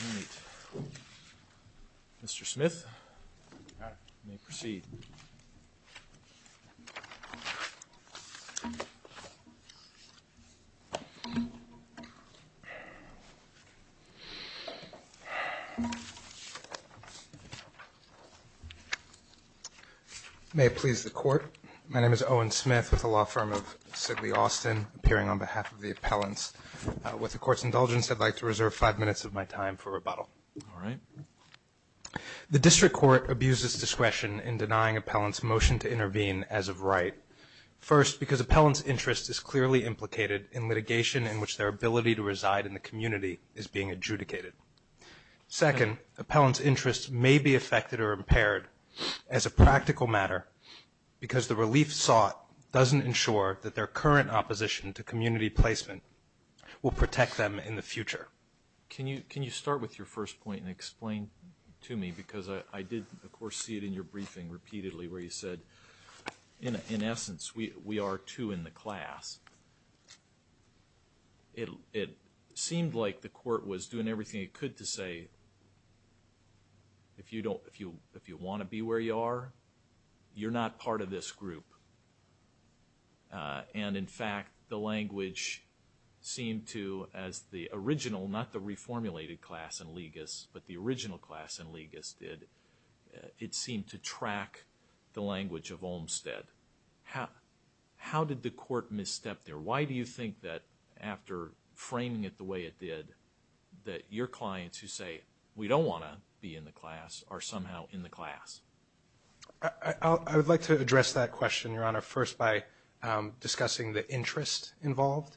All right, Mr. Smith, you may proceed. May it please the Court, my name is Owen Smith with the law firm of Sigley Austin, appearing on behalf of the appellants. With the Court's indulgence, I'd like to reserve five minutes of my time for rebuttal. All right. The district court abuses discretion in denying appellants motion to intervene as of right. First, because appellants' interest is clearly implicated in litigation in which their ability to reside in the community is being adjudicated. Second, appellants' interests may be affected or impaired as a practical matter because the relief sought doesn't ensure that their current opposition to community placement will protect them in the future. Can you start with your first point and explain to me, because I did, of course, see it in your briefing repeatedly where you said, in essence, we are two in the class. It seemed like the Court was doing everything it could to say, if you want to be where you are, you're not part of this group. And, in fact, the language seemed to, as the original, not the reformulated class in legis, but the original class in legis did, it seemed to track the language of Olmstead. How did the Court misstep there? Why do you think that, after framing it the way it did, that your clients who say, we don't want to be in the class, are somehow in the class? I would like to address that question, Your Honor, first by discussing the interest involved.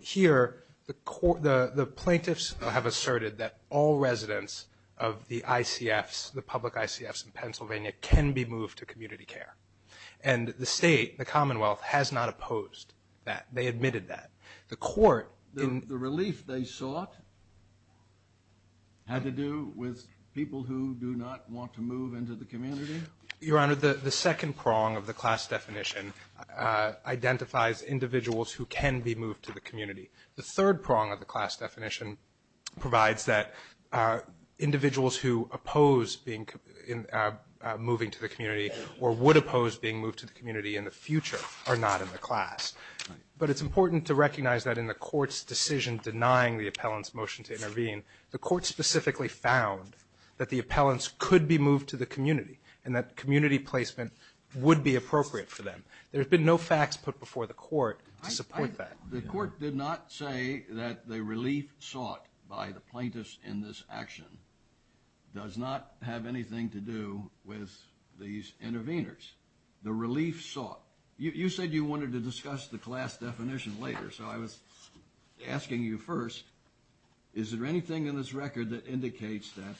Here, the plaintiffs have asserted that all residents of the ICFs, the public ICFs in Pennsylvania, can be moved to community care. And the State, the Commonwealth, has not opposed that. They admitted that. The Court in the- The relief they sought had to do with people who do not want to move into the community? Your Honor, the second prong of the class definition identifies individuals who can be moved to the community. The third prong of the class definition provides that individuals who oppose moving to the community or would oppose being moved to the community in the future are not in the class. But it's important to recognize that in the Court's decision denying the appellant's motion to intervene, the Court specifically found that the appellants could be moved to the community and that community placement would be appropriate for them. There have been no facts put before the Court to support that. The Court did not say that the relief sought by the plaintiffs in this action does not have anything to do with these interveners. The relief sought. You said you wanted to discuss the class definition later, so I was asking you first, is there anything in this record that indicates that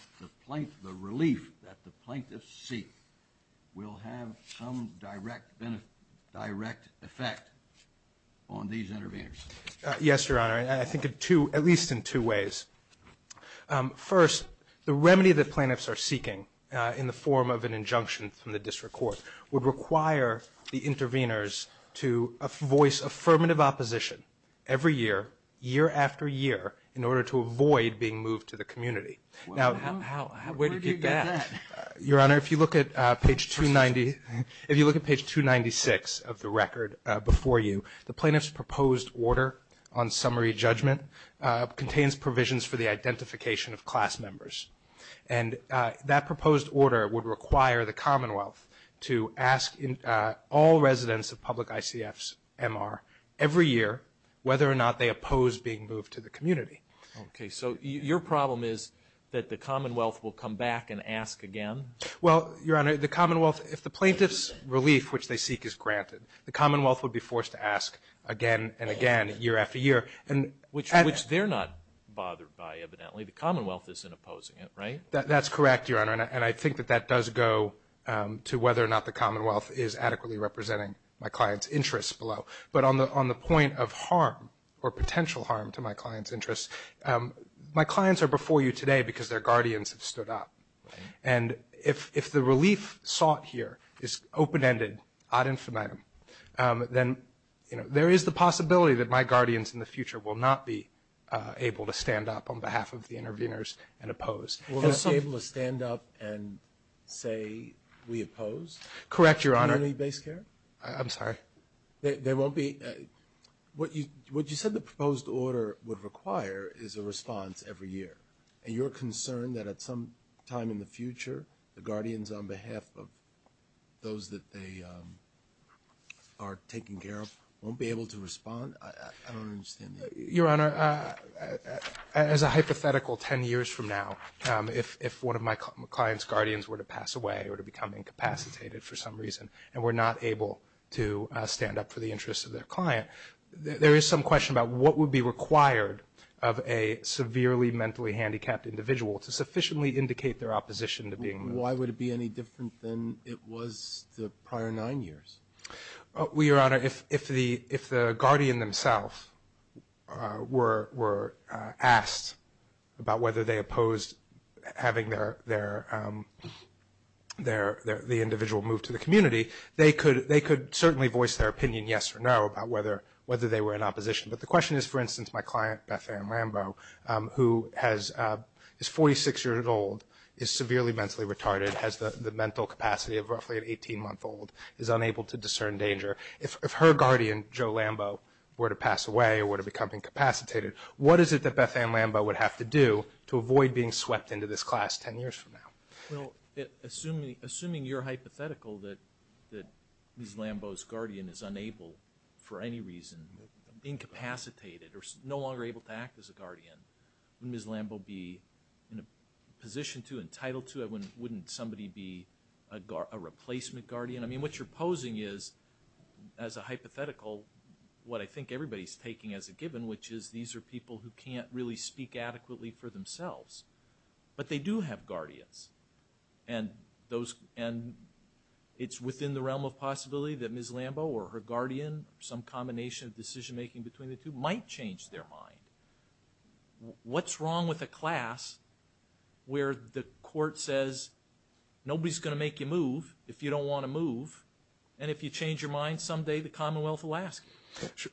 the relief that the plaintiffs seek will have some direct effect on these interveners? Yes, Your Honor. I think at least in two ways. First, the remedy that plaintiffs are seeking in the form of an injunction from the District Court would require the interveners to voice affirmative opposition every year, year after year, in order to avoid being moved to the community. Where did you get that? Your Honor, if you look at page 296 of the record before you, the plaintiff's proposed order on summary judgment contains provisions for the identification of class members. And that proposed order would require the Commonwealth to ask all residents of public ICFs, MR, every year whether or not they oppose being moved to the community. Okay. So your problem is that the Commonwealth will come back and ask again? Well, Your Honor, the Commonwealth, if the plaintiff's relief which they seek is granted, the Commonwealth would be forced to ask again and again, year after year. Which they're not bothered by, evidently. The Commonwealth isn't opposing it, right? That's correct, Your Honor. And I think that that does go to whether or not the Commonwealth is adequately representing my client's interests below. But on the point of harm or potential harm to my client's interests, my clients are before you today because their guardians have stood up. Right. And if the relief sought here is open-ended, ad infinitum, then there is the possibility that my guardians in the future will not be able to stand up on behalf of the intervenors and oppose. Will they be able to stand up and say we oppose community-based care? Correct, Your Honor. I'm sorry. They won't be? What you said the proposed order would require is a response every year. And you're concerned that at some time in the future, the guardians on behalf of those that they are taking care of won't be able to respond? I don't understand that. Your Honor, as a hypothetical 10 years from now, if one of my client's guardians were to pass away or to become incapacitated for some reason and were not able to stand up for the interests of their client, there is some question about what would be required of a severely mentally handicapped individual to sufficiently indicate their opposition to being moved. Why would it be any different than it was the prior nine years? Well, Your Honor, if the guardian themselves were asked about whether they opposed having their individual move to the community, they could certainly voice their opinion yes or no about whether they were in opposition. But the question is, for instance, my client Beth Ann Lambeau, who is 46 years old, is severely mentally retarded, has the mental capacity of roughly an 18-month-old, is unable to discern danger. If her guardian, Joe Lambeau, were to pass away or were to become incapacitated, what is it that Beth Ann Lambeau would have to do to avoid being swept into this class 10 years from now? Well, assuming you're hypothetical that Ms. Lambeau's guardian is unable for any reason, incapacitated or no longer able to act as a guardian, would Ms. Lambeau be in a position to, entitled to it? Wouldn't somebody be a replacement guardian? I mean, what you're posing is, as a hypothetical, what I think everybody's taking as a given, which is these are people who can't really speak adequately for themselves. But they do have guardians. And it's within the realm of possibility that Ms. Lambeau or her guardian, some combination of decision-making between the two, might change their mind. What's wrong with a class where the court says nobody's going to make you move if you don't want to move, and if you change your mind, someday the Commonwealth will ask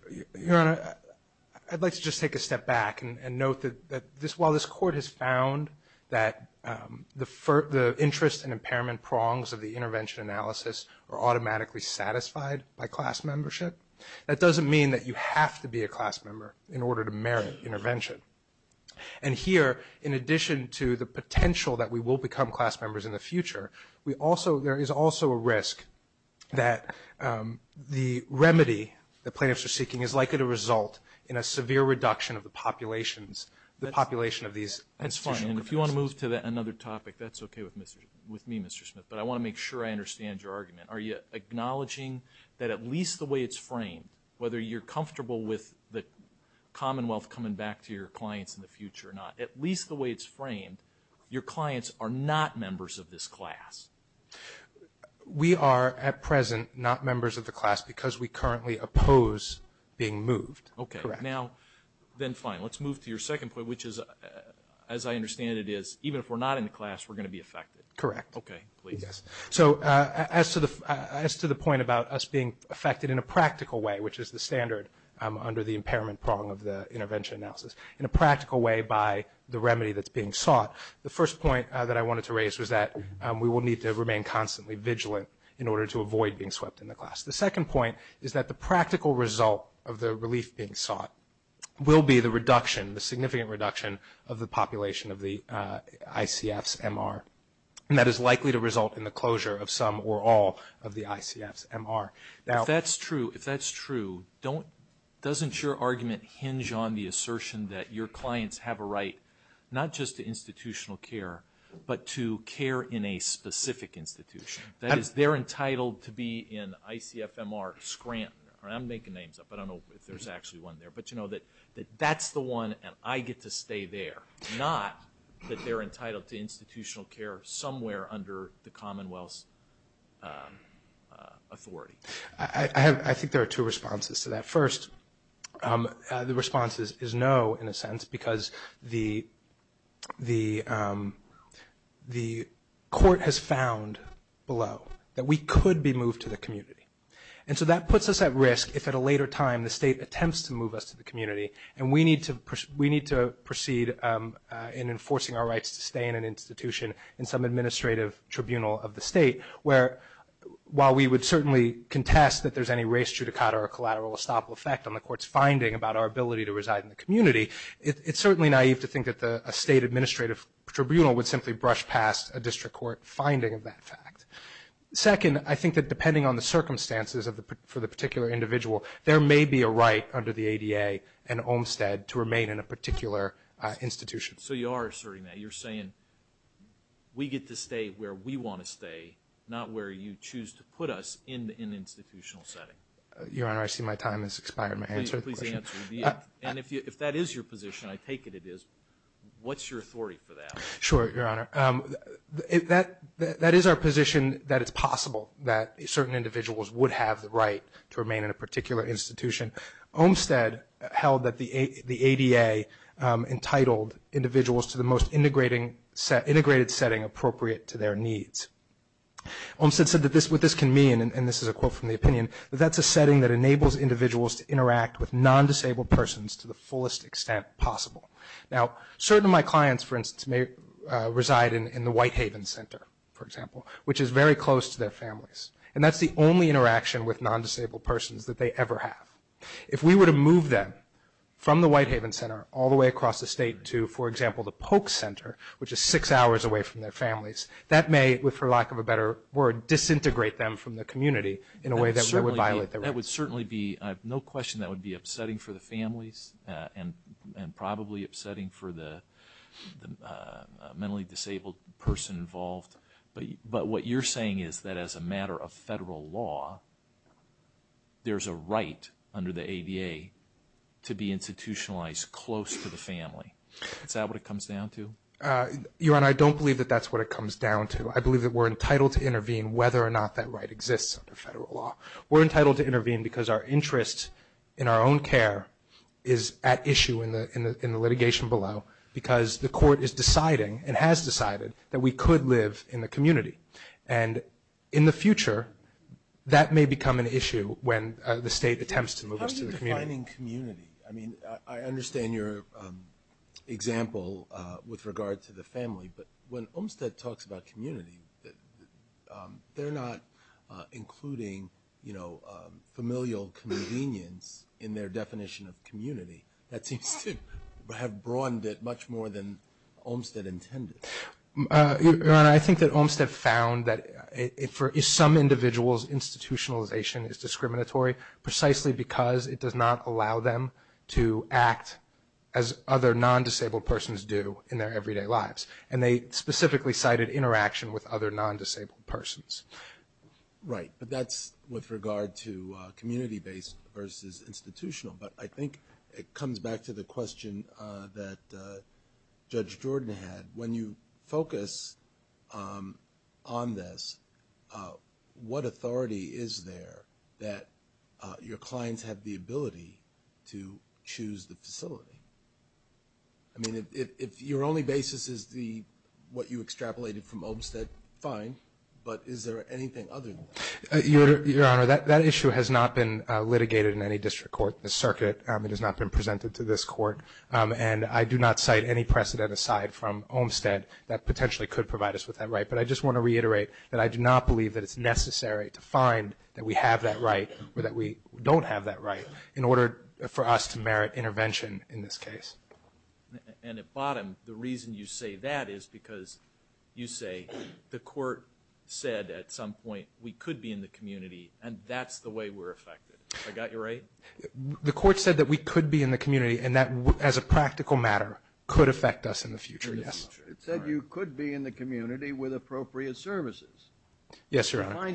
you? Your Honor, I'd like to just take a step back and note that while this Court has found that the interest and impairment prongs of the intervention analysis are automatically satisfied by class membership, that doesn't mean that you have to be a class member in order to merit intervention. And here, in addition to the potential that we will become class members in the future, there is also a risk that the remedy that plaintiffs are seeking is likely to result in a severe reduction of the population of these institutional capacity. That's fine. And if you want to move to another topic, that's okay with me, Mr. Smith. But I want to make sure I understand your argument. Are you acknowledging that at least the way it's framed, whether you're comfortable with the Commonwealth coming back to your clients in the future or not, at least the way it's framed, your clients are not members of this class? We are, at present, not members of the class because we currently oppose being moved. Okay. Correct. Now, then, fine. Let's move to your second point, which is, as I understand it is, even if we're not in the class, we're going to be affected. Correct. Okay. Please. Yes. So as to the point about us being affected in a practical way, which is the standard under the impairment prong of the intervention analysis, in a practical way by the remedy that's being sought, the first point that I wanted to raise was that we will need to remain constantly vigilant in order to avoid being swept in the class. The second point is that the practical result of the relief being sought will be the reduction, the significant reduction, of the population of the ICF's MR. And that is likely to result in the closure of some or all of the ICF's MR. If that's true, if that's true, doesn't your argument hinge on the assertion that your clients have a right, not just to institutional care, but to care in a specific institution? That is, they're entitled to be in ICF MR Scranton. I'm making names up. I don't know if there's actually one there. But, you know, that that's the one and I get to stay there, not that they're entitled to institutional care somewhere under the Commonwealth's authority. I think there are two responses to that. First, the response is no, in a sense, because the court has found below that we could be moved to the community. And so that puts us at risk if at a later time the state attempts to move us to the community and we need to proceed in enforcing our rights to stay in an institution in some administrative tribunal of the state where, while we would certainly contest that there's any race judicata or collateral estoppel effect on the court's finding about our ability to reside in the community, it's certainly naive to think that a state administrative tribunal would simply brush past a district court finding of that fact. Second, I think that depending on the circumstances for the particular individual, there may be a right under the ADA and Olmstead to remain in a particular institution. So you are asserting that. You're saying we get to stay where we want to stay, not where you choose to put us in an institutional setting. Your Honor, I see my time has expired. May I answer the question? Please answer. And if that is your position, I take it it is, what's your authority for that? Sure, Your Honor. That is our position that it's possible that certain individuals would have the right to remain in a particular institution. Olmstead held that the ADA entitled individuals to the most integrated setting appropriate to their needs. Olmstead said that what this can mean, and this is a quote from the opinion, that that's a setting that enables individuals to interact with non-disabled persons to the fullest extent possible. Now, certain of my clients, for instance, may reside in the Whitehaven Center, for example, which is very close to their families, and that's the only interaction with non-disabled persons that they ever have. If we were to move them from the Whitehaven Center all the way across the state to, for example, the Polk Center, which is six hours away from their families, that may, for lack of a better word, disintegrate them from the community in a way that would violate their rights. That would certainly be, I have no question that would be upsetting for the families and probably upsetting for the mentally disabled person involved. But what you're saying is that as a matter of federal law, there's a right under the ADA to be institutionalized close to the family. Is that what it comes down to? Your Honor, I don't believe that that's what it comes down to. I believe that we're entitled to intervene whether or not that right exists under federal law. We're entitled to intervene because our interest in our own care is at issue in the litigation below because the court is deciding and has decided that we could live in the community. And in the future, that may become an issue when the state attempts to move us to the community. How do you define community? I mean, I understand your example with regard to the family, but when Olmstead talks about community, they're not including, you know, familial convenience in their definition of community. That seems to have broadened it much more than Olmstead intended. Your Honor, I think that Olmstead found that for some individuals institutionalization is discriminatory precisely because it does not allow them to act as other non-disabled persons do in their everyday lives. And they specifically cited interaction with other non-disabled persons. Right, but that's with regard to community-based versus institutional. But I think it comes back to the question that Judge Jordan had. When you focus on this, what authority is there that your clients have the ability to choose the facility? I mean, if your only basis is what you extrapolated from Olmstead, fine. But is there anything other than that? Your Honor, that issue has not been litigated in any district court. The circuit has not been presented to this court. And I do not cite any precedent aside from Olmstead that potentially could provide us with that right. But I just want to reiterate that I do not believe that it's necessary to find that we have that right or that we don't have that right in order for us to merit intervention in this case. And at bottom, the reason you say that is because you say the court said at some point we could be in the community and that's the way we're affected. I got you right? The court said that we could be in the community and that as a practical matter could affect us in the future, yes. It said you could be in the community with appropriate services. Yes, Your Honor.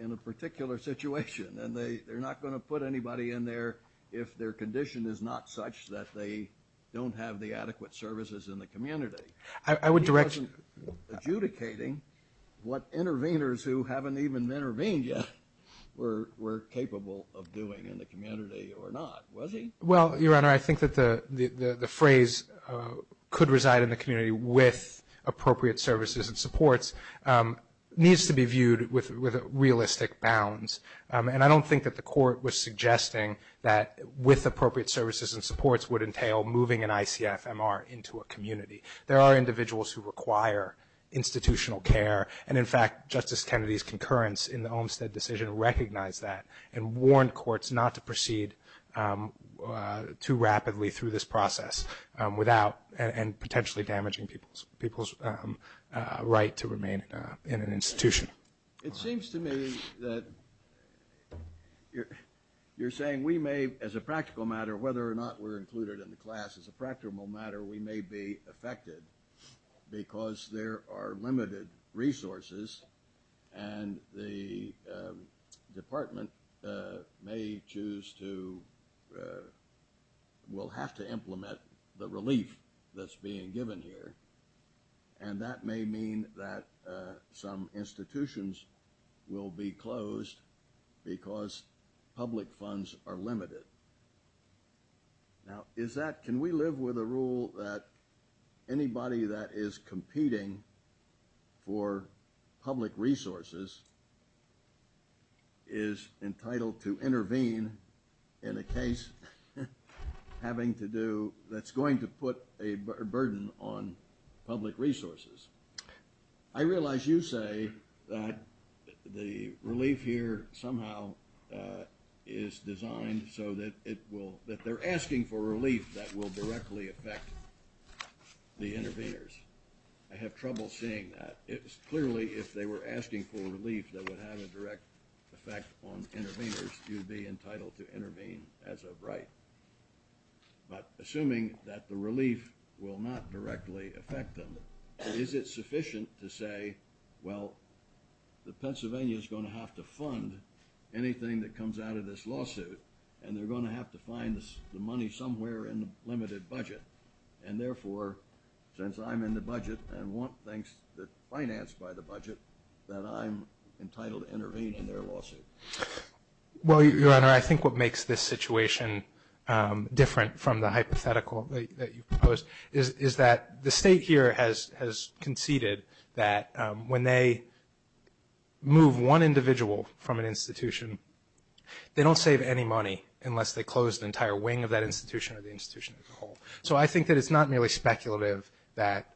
in a particular situation. And they're not going to put anybody in there if their condition is not such that they don't have the adequate services in the community. I would direct you. He wasn't adjudicating what interveners who haven't even intervened yet were capable of doing in the community or not, was he? Well, Your Honor, I think that the phrase could reside in the community with appropriate services and supports needs to be viewed with realistic bounds. And I don't think that the court was suggesting that with appropriate services and supports would entail moving an ICFMR into a community. There are individuals who require institutional care. And, in fact, Justice Kennedy's concurrence in the Olmstead decision recognized that and warned courts not to proceed too rapidly through this process without and potentially damaging people's right to remain in an institution. It seems to me that you're saying we may, as a practical matter, whether or not we're included in the class, as a practical matter, we may be affected because there are limited resources and the department may choose to, will have to implement the relief that's being given here. And that may mean that some institutions will be closed because public funds are limited. Now, can we live with a rule that anybody that is competing for public resources is entitled to intervene in a case that's going to put a burden on public resources? I realize you say that the relief here somehow is designed so that it will – that they're asking for relief that will directly affect the interveners. I have trouble seeing that. Clearly, if they were asking for relief that would have a direct effect on interveners, you'd be entitled to intervene as of right. But assuming that the relief will not directly affect them, is it sufficient to say, well, the Pennsylvania is going to have to fund anything that comes out of this lawsuit and they're going to have to find the money somewhere in the limited budget? And therefore, since I'm in the budget and want things financed by the budget, then I'm entitled to intervene in their lawsuit? Well, Your Honor, I think what makes this situation different from the hypothetical that you proposed is that the state here has conceded that when they move one individual from an institution, they don't save any money unless they close the entire wing of that institution or the institution as a whole. So I think that it's not merely speculative that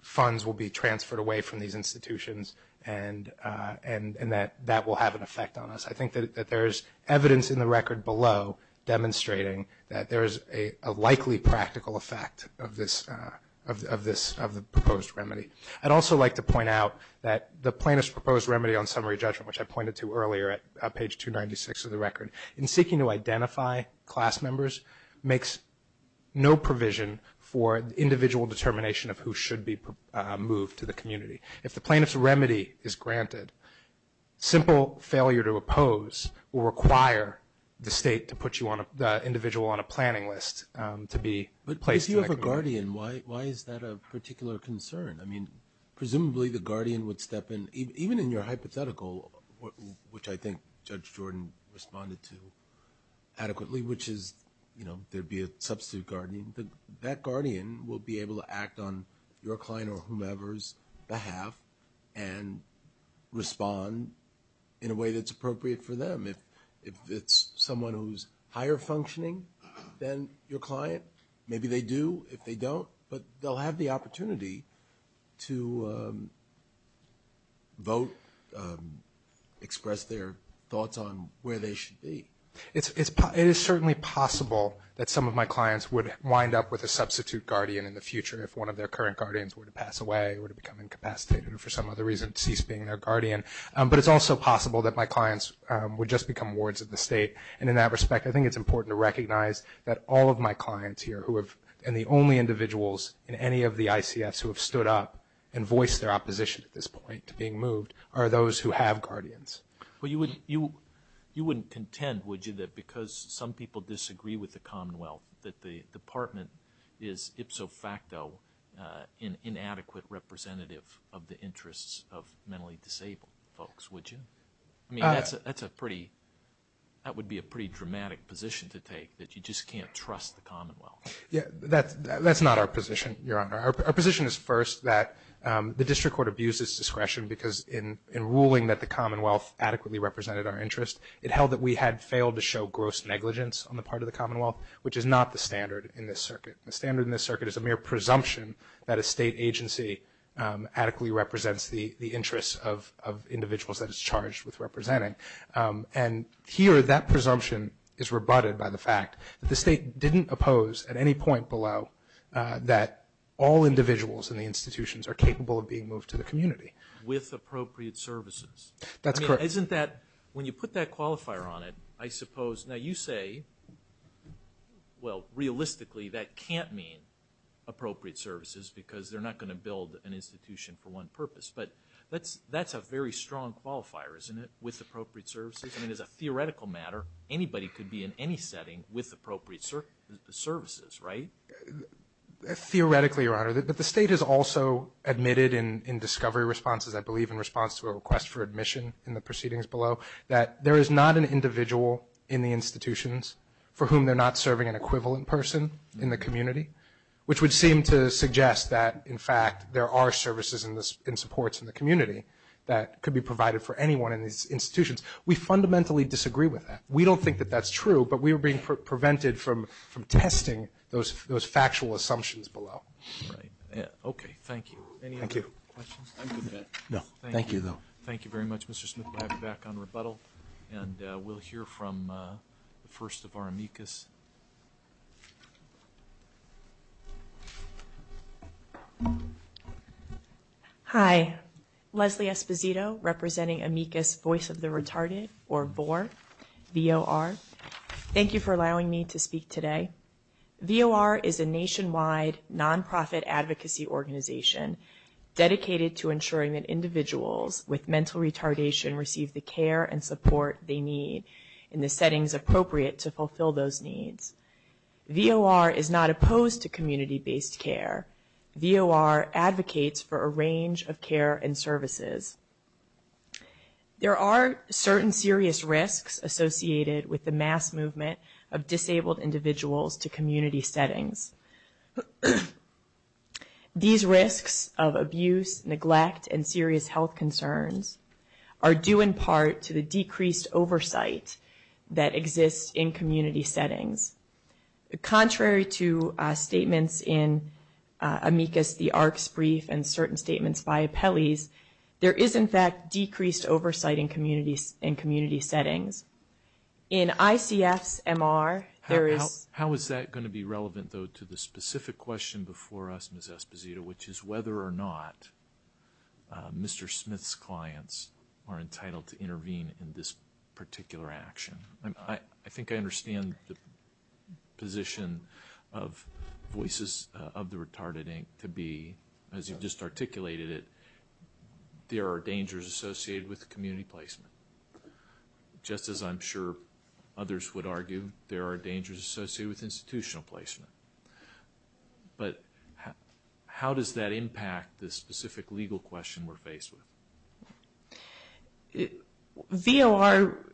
funds will be transferred away from these institutions and that that will have an effect on us. I think that there is evidence in the record below demonstrating that there is a likely practical effect of the proposed remedy. I'd also like to point out that the plaintiff's proposed remedy on summary judgment, which I pointed to earlier at page 296 of the record, in seeking to identify class members makes no provision for individual determination of who should be moved to the community. If the plaintiff's remedy is granted, simple failure to oppose will require the state to put the individual on a planning list to be placed in that community. But if you have a guardian, why is that a particular concern? I mean, presumably the guardian would step in. Even in your hypothetical, which I think Judge Jordan responded to adequately, which is there would be a substitute guardian, that guardian will be able to act on your client or whomever's behalf and respond in a way that's appropriate for them. If it's someone who's higher functioning than your client, maybe they do. If they don't, they'll have the opportunity to vote, express their thoughts on where they should be. It is certainly possible that some of my clients would wind up with a substitute guardian in the future if one of their current guardians were to pass away or to become incapacitated or for some other reason cease being their guardian. But it's also possible that my clients would just become wards of the state. And in that respect, I think it's important to recognize that all of my clients here and the only individuals in any of the ICFs who have stood up and voiced their opposition at this point to being moved are those who have guardians. Well, you wouldn't contend, would you, that because some people disagree with the Commonwealth, that the Department is ipso facto an inadequate representative of the interests of mentally disabled folks, would you? I mean, that would be a pretty dramatic position to take, that you just can't trust the Commonwealth. Yeah, that's not our position, Your Honor. Our position is first that the district court abuses discretion because in ruling that the Commonwealth adequately represented our interest, it held that we had failed to show gross negligence on the part of the Commonwealth, which is not the standard in this circuit. The standard in this circuit is a mere presumption that a state agency adequately represents the interests of individuals that it's charged with representing. And here that presumption is rebutted by the fact that the state didn't oppose at any point below that all individuals in the institutions are capable of being moved to the community. With appropriate services. That's correct. I mean, isn't that, when you put that qualifier on it, I suppose, now you say, well, realistically that can't mean appropriate services because they're not going to build an institution for one purpose. But that's a very strong qualifier, isn't it, with appropriate services? I mean, as a theoretical matter, anybody could be in any setting with appropriate services, right? Theoretically, Your Honor, but the state has also admitted in discovery responses, I believe in response to a request for admission in the proceedings below, that there is not an individual in the institutions for whom they're not serving an equivalent person in the community, which would seem to suggest that, in fact, there are services and supports in the community that could be provided for anyone in these institutions. We fundamentally disagree with that. We don't think that that's true, but we are being prevented from testing those factual assumptions below. Right. Okay. Thank you. Any other questions? No. Thank you, though. Thank you very much, Mr. Smith. We'll have you back on rebuttal, and we'll hear from the first of our amicus. Hi. Leslie Esposito, representing amicus Voice of the Retarded, or VOR, V-O-R. Thank you for allowing me to speak today. VOR is a nationwide nonprofit advocacy organization dedicated to ensuring that individuals with mental retardation receive the care and support they need in the settings appropriate to fulfill those needs. VOR is not opposed to community-based care. VOR advocates for a range of care and services. There are certain serious risks associated with the mass movement of disabled individuals to community settings. These risks of abuse, neglect, and serious health concerns are due in part to the decreased oversight that exists in community settings. Contrary to statements in amicus, the ARCS brief, and certain statements by appellees, there is, in fact, decreased oversight in community settings. In ICF's MR, there is- How is that going to be relevant, though, to the specific question before us, Ms. Esposito, which is whether or not Mr. Smith's clients are entitled to intervene in this particular action? I think I understand the position of Voices of the Retarded Inc. to be, as you just articulated it, there are dangers associated with community placement. Just as I'm sure others would argue, there are dangers associated with institutional placement. But how does that impact the specific legal question we're faced with? VOR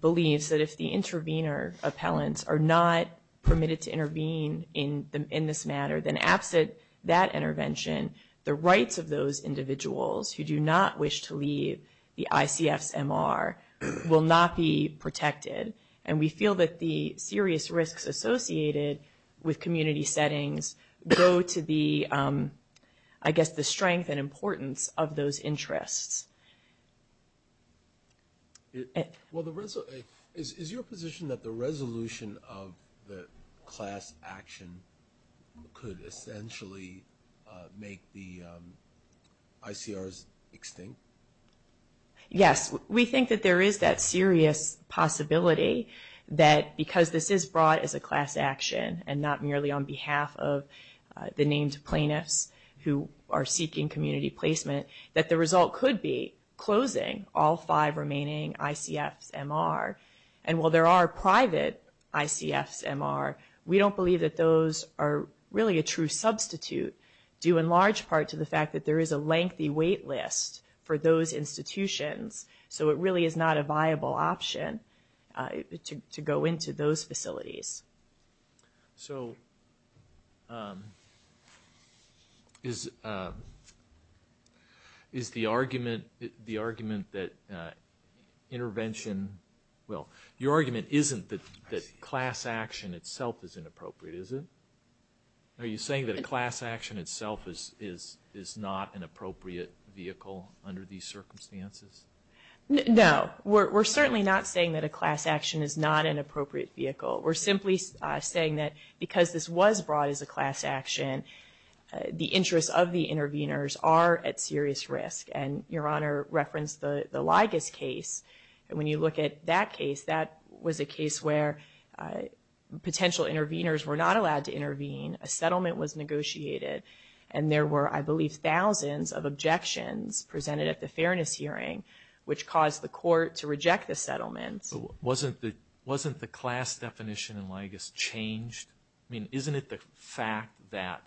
believes that if the intervener appellants are not permitted to intervene in this matter, then absent that intervention, the rights of those individuals who do not wish to leave the ICF's MR will not be protected. And we feel that the serious risks associated with community settings go to the, I guess, the strength and importance of those interests. Is your position that the resolution of the class action could essentially make the ICRs extinct? Yes, we think that there is that serious possibility that because this is brought as a class action and not merely on behalf of the named plaintiffs who are seeking community placement, that the result could be closing all five remaining ICFs MR. And while there are private ICFs MR, we don't believe that those are really a true substitute, due in large part to the fact that there is a lengthy wait list for those institutions. So it really is not a viable option to go into those facilities. So, is the argument that intervention, well, your argument isn't that class action itself is inappropriate, is it? Are you saying that a class action itself is not an appropriate vehicle under these circumstances? No, we're certainly not saying that a class action is not an appropriate vehicle. We're simply saying that because this was brought as a class action, the interests of the interveners are at serious risk. And your Honor referenced the Ligas case, and when you look at that case, that was a case where potential interveners were not allowed to intervene, a settlement was negotiated, and there were, I believe, thousands of objections presented at the fairness hearing, which caused the court to reject the settlement. Wasn't the class definition in Ligas changed? I mean, isn't it the fact that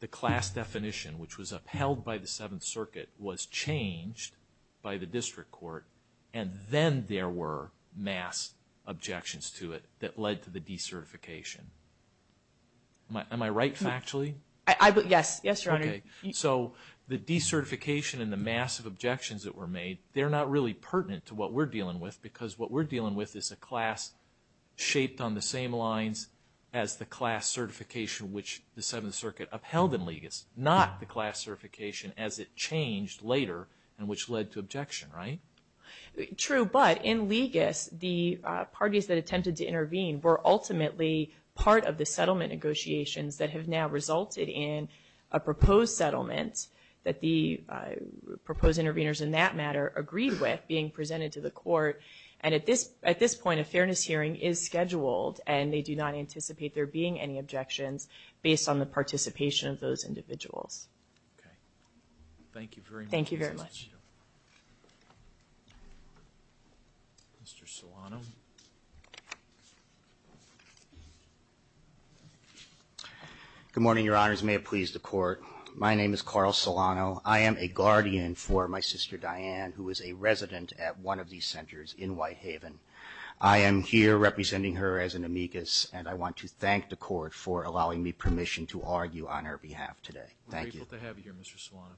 the class definition, which was upheld by the Seventh Circuit, was changed by the District Court, and then there were mass objections to it that led to the decertification? Am I right factually? Yes, yes, Your Honor. Okay, so the decertification and the massive objections that were made, they're not really pertinent to what we're dealing with, because what we're dealing with is a class shaped on the same lines as the class certification, which the Seventh Circuit upheld in Ligas, not the class certification as it changed later, and which led to objection, right? True, but in Ligas, the parties that attempted to intervene were ultimately part of the settlement negotiations that have now resulted in a proposed settlement that the proposed interveners, in that matter, agreed with being presented to the court. And at this point, a fairness hearing is scheduled, and they do not anticipate there being any objections based on the participation of those individuals. Okay. Thank you very much. Thank you very much. Mr. Solano. Good morning, Your Honors. May it please the Court. My name is Carl Solano. I am a guardian for my sister, Diane, who is a resident at one of these centers in Whitehaven. I am here representing her as an amicus, and I want to thank the Court for allowing me permission to argue on her behalf today. Thank you. We're grateful to have you here, Mr. Solano.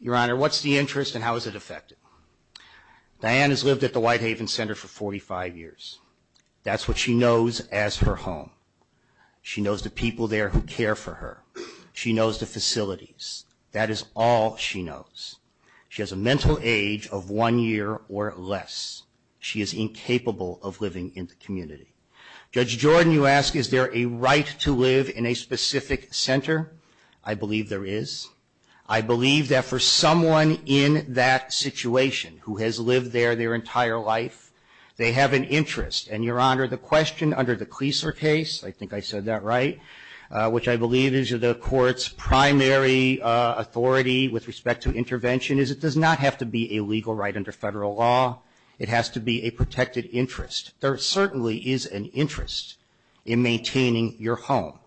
Your Honor, what's the interest and how is it affected? Diane has lived at the Whitehaven Center for 45 years. That's what she knows as her home. She knows the people there who care for her. She knows the facilities. That is all she knows. She has a mental age of one year or less. She is incapable of living in the community. Judge Jordan, you ask, is there a right to live in a specific center? I believe there is. I believe that for someone in that situation who has lived there their entire life, they have an interest. And, Your Honor, the question under the Kleesler case, I think I said that right, which I believe is the Court's primary authority with respect to intervention, is it does not have to be a legal right under federal law. It has to be a protected interest. There certainly is an interest in maintaining your home.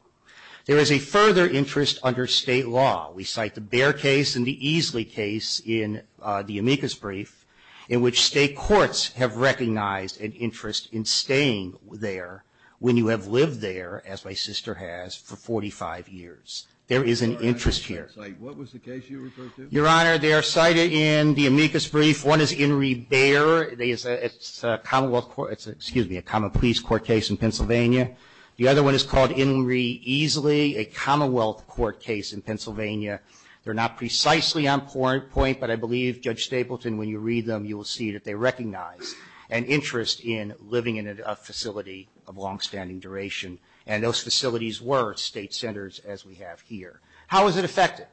There is a further interest under state law. We cite the Bear case and the Easley case in the amicus brief, in which state courts have recognized an interest in staying there when you have lived there, as my sister has, for 45 years. There is an interest here. What was the case you referred to? Your Honor, they are cited in the amicus brief. One is Inree Bear. It's a commonwealth court, excuse me, a common police court case in Pennsylvania. The other one is called Inree Easley, a commonwealth court case in Pennsylvania. They're not precisely on point, but I believe, Judge Stapleton, when you read them you will see that they recognize an interest in living in a facility of longstanding duration, and those facilities were state centers, as we have here. How is it affected?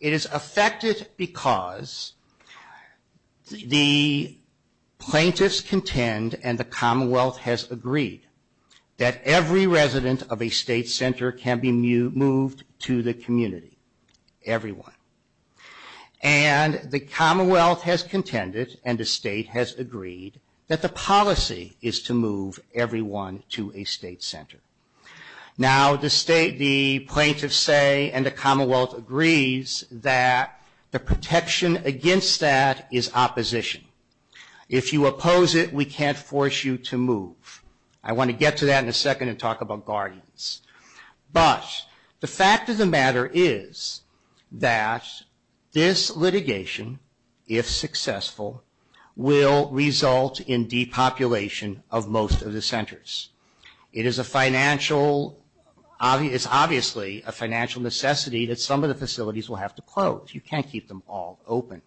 It is affected because the plaintiffs contend, and the commonwealth has agreed, that every resident of a state center can be moved to the community, everyone. And the commonwealth has contended, and the state has agreed, that the policy is to move everyone to a state center. Now the plaintiffs say, and the commonwealth agrees, that the protection against that is opposition. If you oppose it, we can't force you to move. I want to get to that in a second and talk about guardians. But the fact of the matter is that this litigation, if successful, will result in depopulation of most of the centers. It is obviously a financial necessity that some of the facilities will have to close. You can't keep them all open.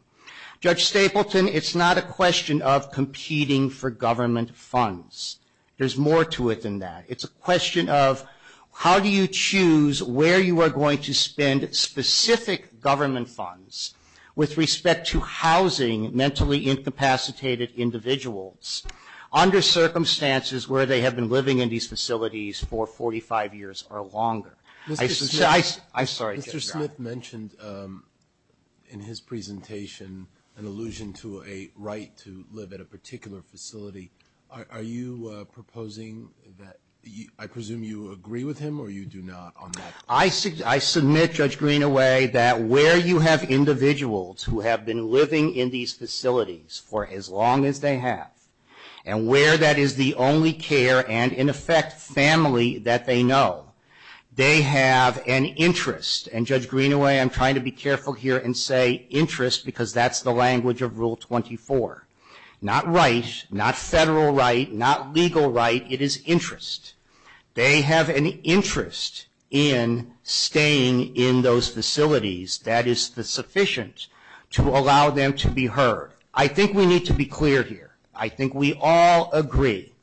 Judge Stapleton, it's not a question of competing for government funds. There's more to it than that. It's a question of how do you choose where you are going to spend specific government funds with respect to housing mentally incapacitated individuals under circumstances where they have been living in these facilities for 45 years or longer. I'm sorry. Mr. Smith mentioned in his presentation an allusion to a right to live at a particular facility. Are you proposing that, I presume you agree with him or you do not on that? I submit, Judge Greenaway, that where you have individuals who have been living in these facilities for as long as they have and where that is the only care and, in effect, family that they know, they have an interest. And, Judge Greenaway, I'm trying to be careful here and say interest because that's the language of Rule 24. Not right, not federal right, not legal right. It is interest. They have an interest in staying in those facilities that is sufficient to allow them to be heard. I think we need to be clear here. I think we all agree.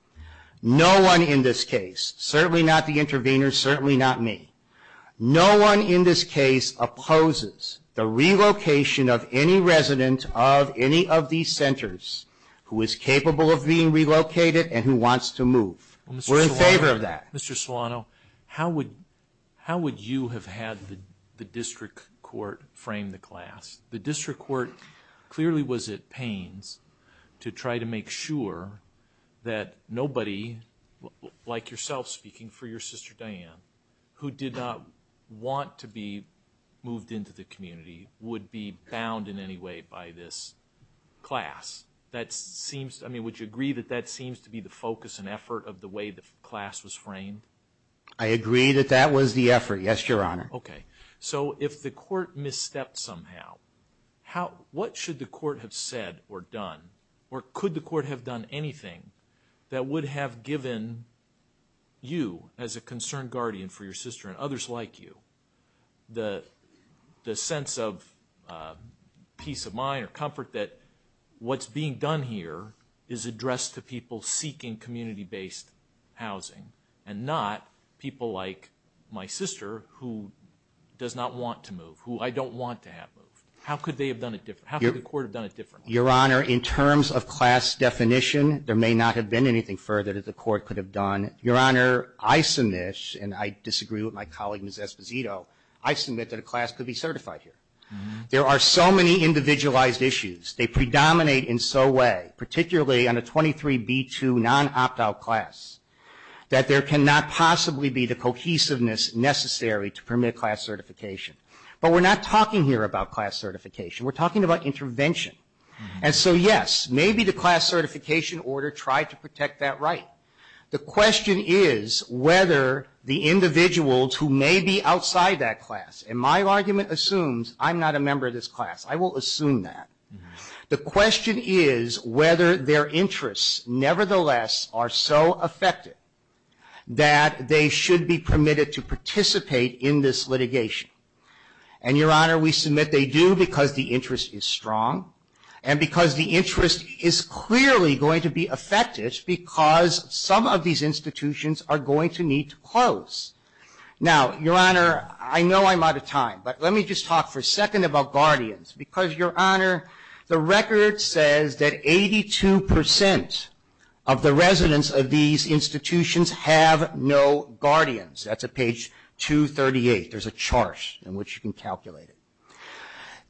No one in this case, certainly not the intervener, certainly not me, no one in this case opposes the relocation of any resident of any of these centers who is capable of being relocated and who wants to move. We're in favor of that. Mr. Solano, how would you have had the district court frame the class? The district court clearly was at pains to try to make sure that nobody, like yourself speaking for your sister Diane, who did not want to be moved into the community would be bound in any way by this class. That seems, I mean, would you agree that that seems to be the focus and effort of the way the class was framed? I agree that that was the effort, yes, Your Honor. Okay. So if the court misstepped somehow, what should the court have said or done or could the court have done anything that would have given you, as a concerned guardian for your sister and others like you, the sense of peace of mind or comfort that what's being done here is addressed to people seeking community-based housing and not people like my sister who does not want to move, who I don't want to have moved. How could they have done it different? How could the court have done it differently? Your Honor, in terms of class definition, there may not have been anything further that the court could have done. Your Honor, I submit, and I disagree with my colleague Ms. Esposito, I submit that a class could be certified here. There are so many individualized issues. They predominate in so way, particularly on a 23B2 non-opt-out class, that there cannot possibly be the cohesiveness necessary to permit class certification. But we're not talking here about class certification. We're talking about intervention. And so, yes, maybe the class certification order tried to protect that right. The question is whether the individuals who may be outside that class, and my argument assumes I'm not a member of this class. I will assume that. The question is whether their interests, nevertheless, are so affected that they should be permitted to participate in this litigation. And, Your Honor, we submit they do because the interest is strong, and because the interest is clearly going to be affected, because some of these institutions are going to need to close. Now, Your Honor, I know I'm out of time, but let me just talk for a second about guardians, because, Your Honor, the record says that 82% of the residents of these institutions have no guardians. That's at page 238. There's a chart in which you can calculate it.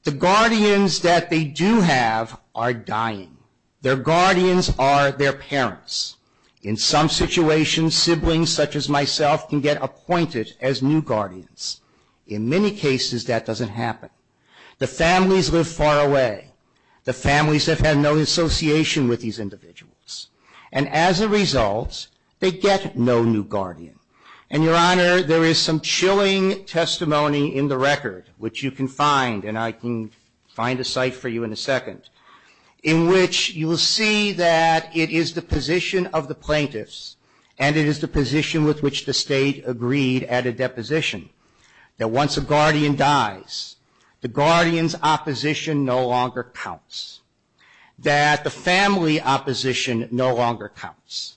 The guardians that they do have are dying. Their guardians are their parents. In some situations, siblings such as myself can get appointed as new guardians. In many cases, that doesn't happen. The families live far away. The families have had no association with these individuals. And as a result, they get no new guardian. And, Your Honor, there is some chilling testimony in the record, which you can find, and I can find a site for you in a second, in which you will see that it is the position of the plaintiffs, and it is the position with which the State agreed at a deposition, that once a guardian dies, the guardian's opposition no longer counts, that the family opposition no longer counts,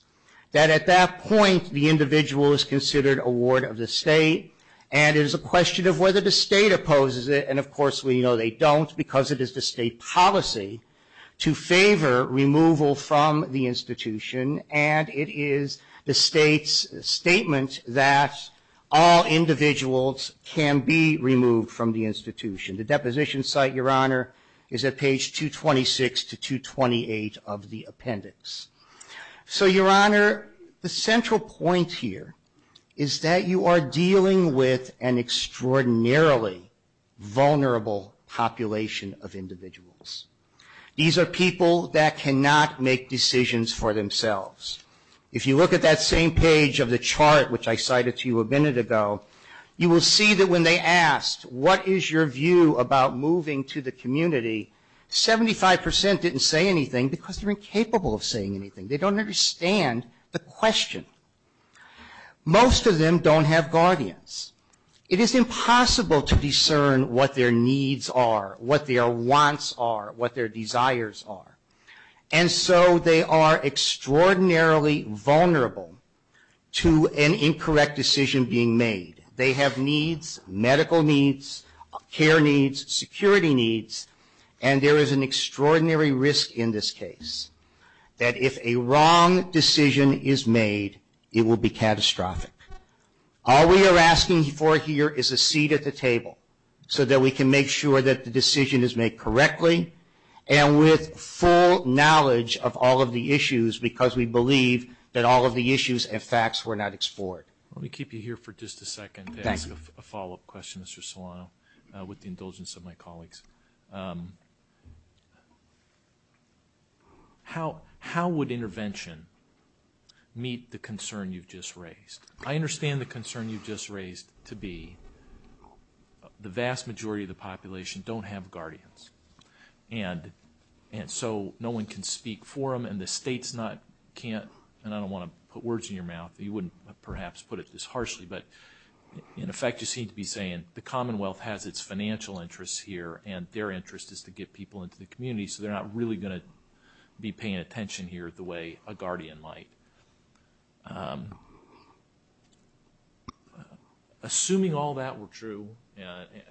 that at that point the individual is considered a ward of the State, and it is a question of whether the State opposes it, and of course we know they don't because it is the State policy to favor removal from the institution, and it is the State's statement that all individuals can be removed from the institution. The deposition site, Your Honor, is at page 226 to 228 of the appendix. So, Your Honor, the central point here is that you are dealing with an extraordinarily vulnerable population of individuals. These are people that cannot make decisions for themselves. If you look at that same page of the chart, which I cited to you a minute ago, you will see that when they asked, what is your view about moving to the community, 75 percent didn't say anything because they are incapable of saying anything. They don't understand the question. Most of them don't have guardians. It is impossible to discern what their needs are, what their wants are, what their desires are. And so they are extraordinarily vulnerable to an incorrect decision being made. They have needs, medical needs, care needs, security needs, and there is an extraordinary risk in this case that if a wrong decision is made, it will be catastrophic. All we are asking for here is a seat at the table so that we can make sure that the decision is made correctly and with full knowledge of all of the issues because we believe that all of the issues and facts were not explored. Let me keep you here for just a second to ask a follow-up question, Mr. Solano, with the indulgence of my colleagues. How would intervention meet the concern you've just raised? I understand the concern you've just raised to be the vast majority of the population don't have guardians, and so no one can speak for them, and the states can't, and I don't want to put words in your mouth, you wouldn't perhaps put it this harshly, but in effect you seem to be saying the Commonwealth has its financial interests here and their interest is to get people into the community, so they're not really going to be paying attention here the way a guardian might. Assuming all that were true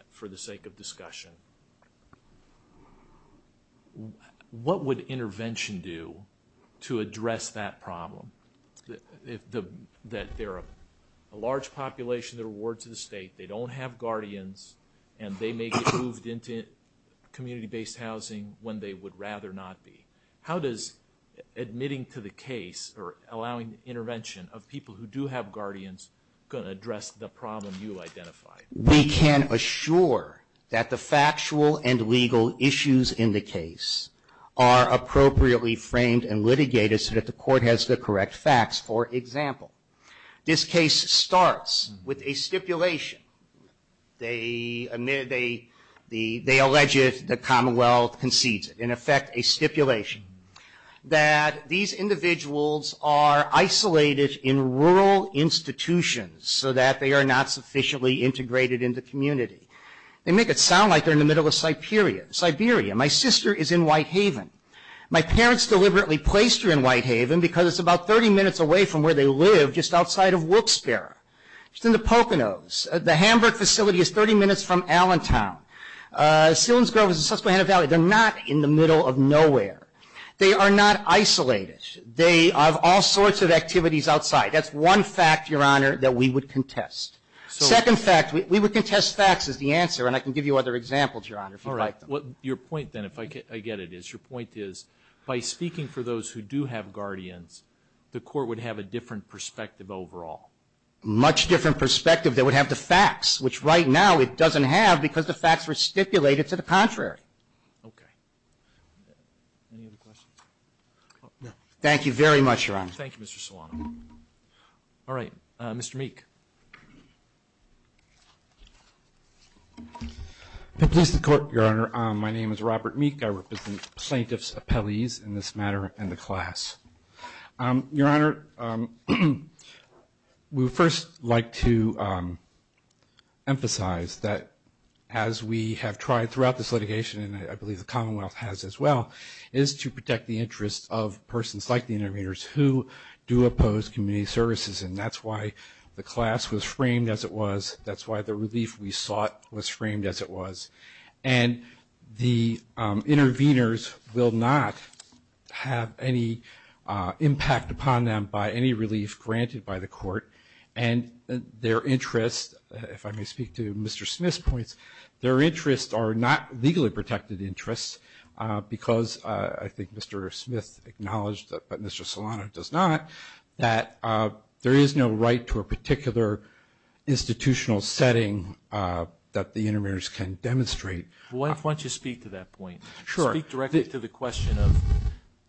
for the sake of discussion, what would intervention do to address that problem? That there are a large population that are wards of the state, they don't have guardians, and they may get moved into community-based housing when they would rather not be. How does admitting to the case or allowing intervention of people who do have guardians going to address the problem you identified? We can assure that the factual and legal issues in the case are appropriately framed and litigated so that the court has the correct facts. For example, this case starts with a stipulation. They alleged the Commonwealth concedes it, in effect a stipulation, that these individuals are isolated in rural institutions so that they are not sufficiently integrated in the community. They make it sound like they're in the middle of Siberia. My sister is in Whitehaven. My parents deliberately placed her in Whitehaven because it's about 30 minutes away from where they live just outside of Wilkes-Barre. She's in the Poconos. The Hamburg facility is 30 minutes from Allentown. Sillings Grove is in Susquehanna Valley. They're not in the middle of nowhere. They are not isolated. They have all sorts of activities outside. That's one fact, Your Honor, that we would contest. Second fact, we would contest facts as the answer, and I can give you other examples, Your Honor, if you'd like them. Your point then, if I get it, is your point is by speaking for those who do have guardians, the court would have a different perspective overall. Much different perspective. They would have the facts, which right now it doesn't have because the facts were stipulated to the contrary. Okay. Any other questions? Thank you very much, Your Honor. Thank you, Mr. Solano. All right. Mr. Meek. At least the court, Your Honor, my name is Robert Meek. I represent plaintiff's appellees in this matter and the class. Your Honor, we would first like to emphasize that as we have tried throughout this litigation, and I believe the Commonwealth has as well, is to protect the interests of persons like the interveners who do oppose community services, and that's why the class was framed as it was. That's why the relief we sought was framed as it was. And the interveners will not have any impact upon them by any relief granted by the court, and their interests, if I may speak to Mr. Smith's points, their interests are not legally protected interests because I think Mr. Smith acknowledged, but Mr. Solano does not, that there is no right to a particular institutional setting that the interveners can demonstrate. Why don't you speak to that point? Sure. Speak directly to the question of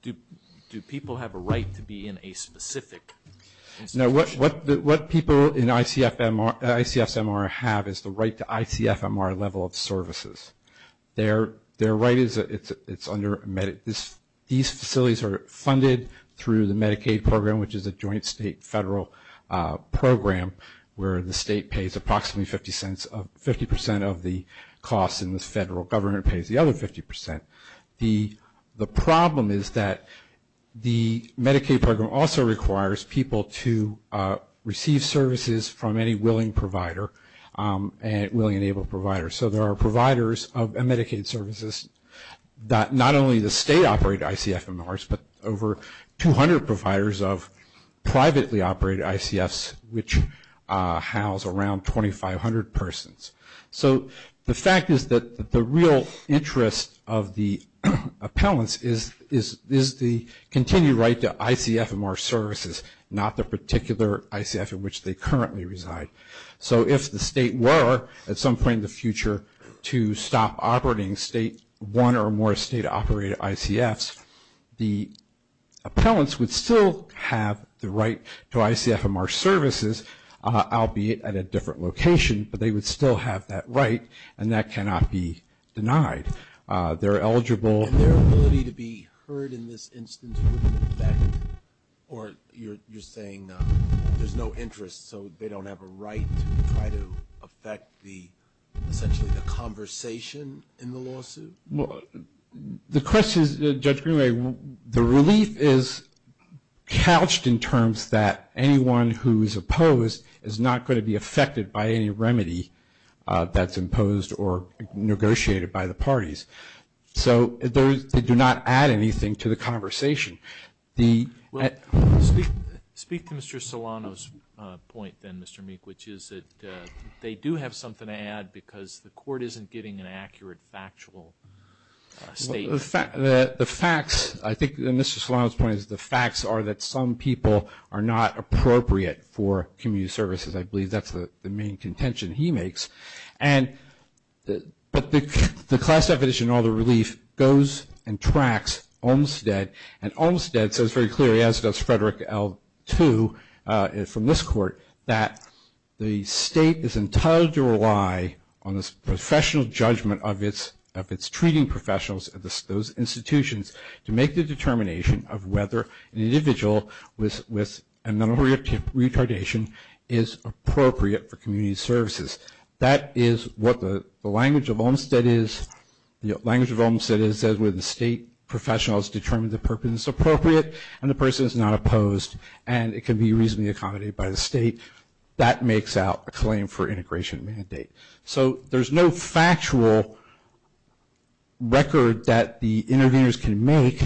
do people have a right to be in a specific institution? No, what people in ICF's MR have is the right to ICF MR level of services. Their right is under these facilities are funded through the Medicaid program, which is a joint state federal program where the state pays approximately 50 percent of the costs and the federal government pays the other 50 percent. The problem is that the Medicaid program also requires people to receive services from any willing provider, willing and able provider. So there are providers of Medicaid services that not only the state operate ICF MR's, but over 200 providers of privately operated ICF's which house around 2,500 persons. So the fact is that the real interest of the appellants is the continued right to ICF MR services, not the particular ICF in which they currently reside. So if the state were at some point in the future to stop operating state one or more state operated ICF's, the appellants would still have the right to ICF MR services, albeit at a different location, but they would still have that right and that cannot be denied. They're eligible. And their ability to be heard in this instance wouldn't affect or you're saying there's no interest so they don't have a right to try to affect essentially the conversation in the lawsuit? The question is, Judge Greenway, the relief is couched in terms that anyone who is opposed is not going to be affected by any remedy that's imposed or negotiated by the parties. So they do not add anything to the conversation. Well, speak to Mr. Solano's point then, Mr. Meek, which is that they do have something to add because the court isn't getting an accurate factual statement. The facts, I think Mr. Solano's point is the facts are that some people are not appropriate for community services. I believe that's the main contention he makes. But the class definition in all the relief goes and tracks Olmstead and Olmstead says very clearly as does Frederick L. II from this court that the state is entitled to rely on this professional judgment of its treating professionals, those institutions, to make the determination of whether an individual with a mental retardation is appropriate for community services. That is what the language of Olmstead is, the language of Olmstead is where the state professionals determine the purpose is appropriate and the person is not opposed and it can be reasonably accommodated by the state. That makes out a claim for integration mandate. So there's no factual record that the interveners can make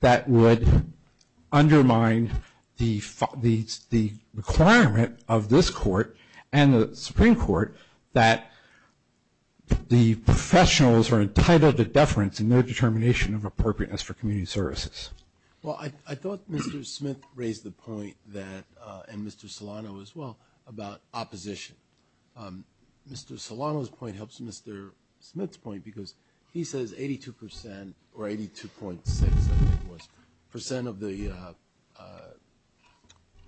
that would undermine the requirement of this court and the Supreme Court that the professionals are entitled to deference and no determination of appropriateness for community services. Well, I thought Mr. Smith raised the point that and Mr. Solano as well about opposition. Mr. Solano's point helps Mr. Smith's point because he says 82% or 82.6% of the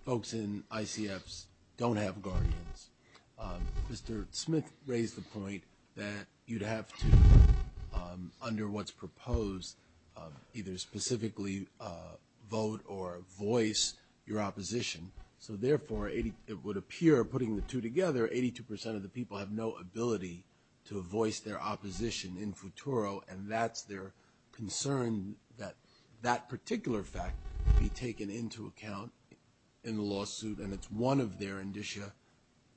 folks in ICFs don't have guardians. Mr. Smith raised the point that you'd have to, under what's proposed, either specifically vote or voice your opposition. So therefore, it would appear, putting the two together, 82% of the people have no ability to voice their opposition in futuro and that's their concern that that particular fact be taken into account in the lawsuit and it's one of their indicia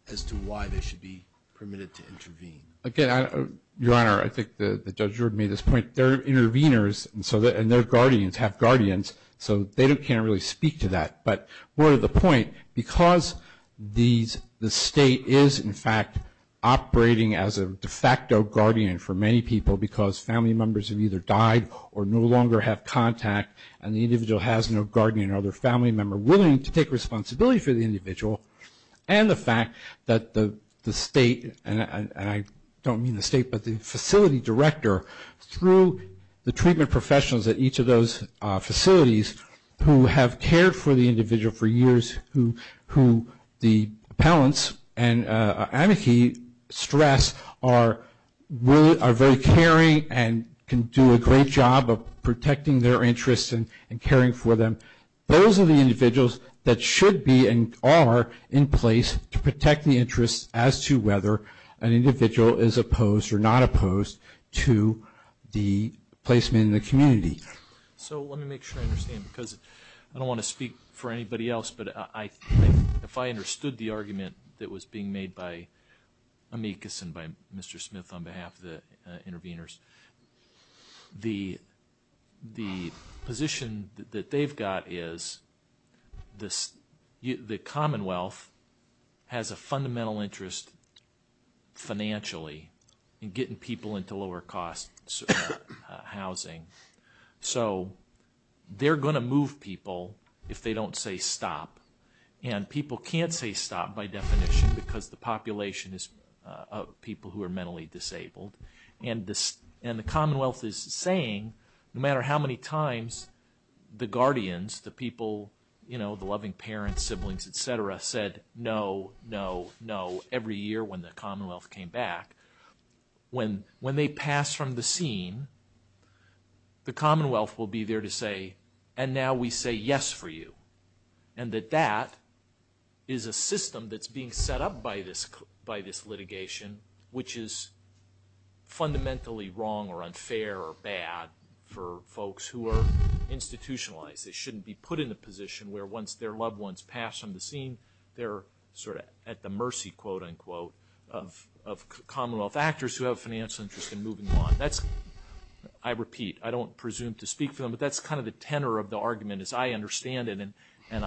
as to why they should be permitted to intervene. Again, Your Honor, I think the judge made this point. They're interveners and their guardians have guardians so they can't really speak to that. But more to the point, because the state is, in fact, operating as a de facto guardian for many people because family members have either died or no longer have contact and the individual has no guardian or other family member willing to take responsibility for the individual and the fact that the state, and I don't mean the state, but the facility director, through the treatment professionals at each of those facilities who have cared for the individual for years, who the appellants and amici stress are very caring and can do a great job of protecting their interests and caring for them, those are the individuals that should be and are in place to protect the interests as to whether an individual is opposed or not opposed to the placement in the community. So let me make sure I understand because I don't want to speak for anybody else, but if I understood the argument that was being made by amicus and by Mr. Smith on behalf of the interveners, the position that they've got is the Commonwealth has a fundamental interest financially in getting people into lower cost housing. So they're going to move people if they don't say stop and people can't say stop by definition because the population is people who are mentally disabled and the Commonwealth is saying no matter how many times the guardians, the people, the loving parents, siblings, etc. said no, no, no every year when the Commonwealth came back. When they pass from the scene, the Commonwealth will be there to say and now we say yes for you and that that is a system that's being set up by this litigation which is fundamentally wrong or unfair or bad for folks who are institutionalized. They shouldn't be put in a position where once their loved ones pass from the scene, they're sort of at the mercy quote unquote of Commonwealth actors who have financial interest in moving on. That's, I repeat, I don't presume to speak for them, but that's kind of the tenor of the argument as I understand it and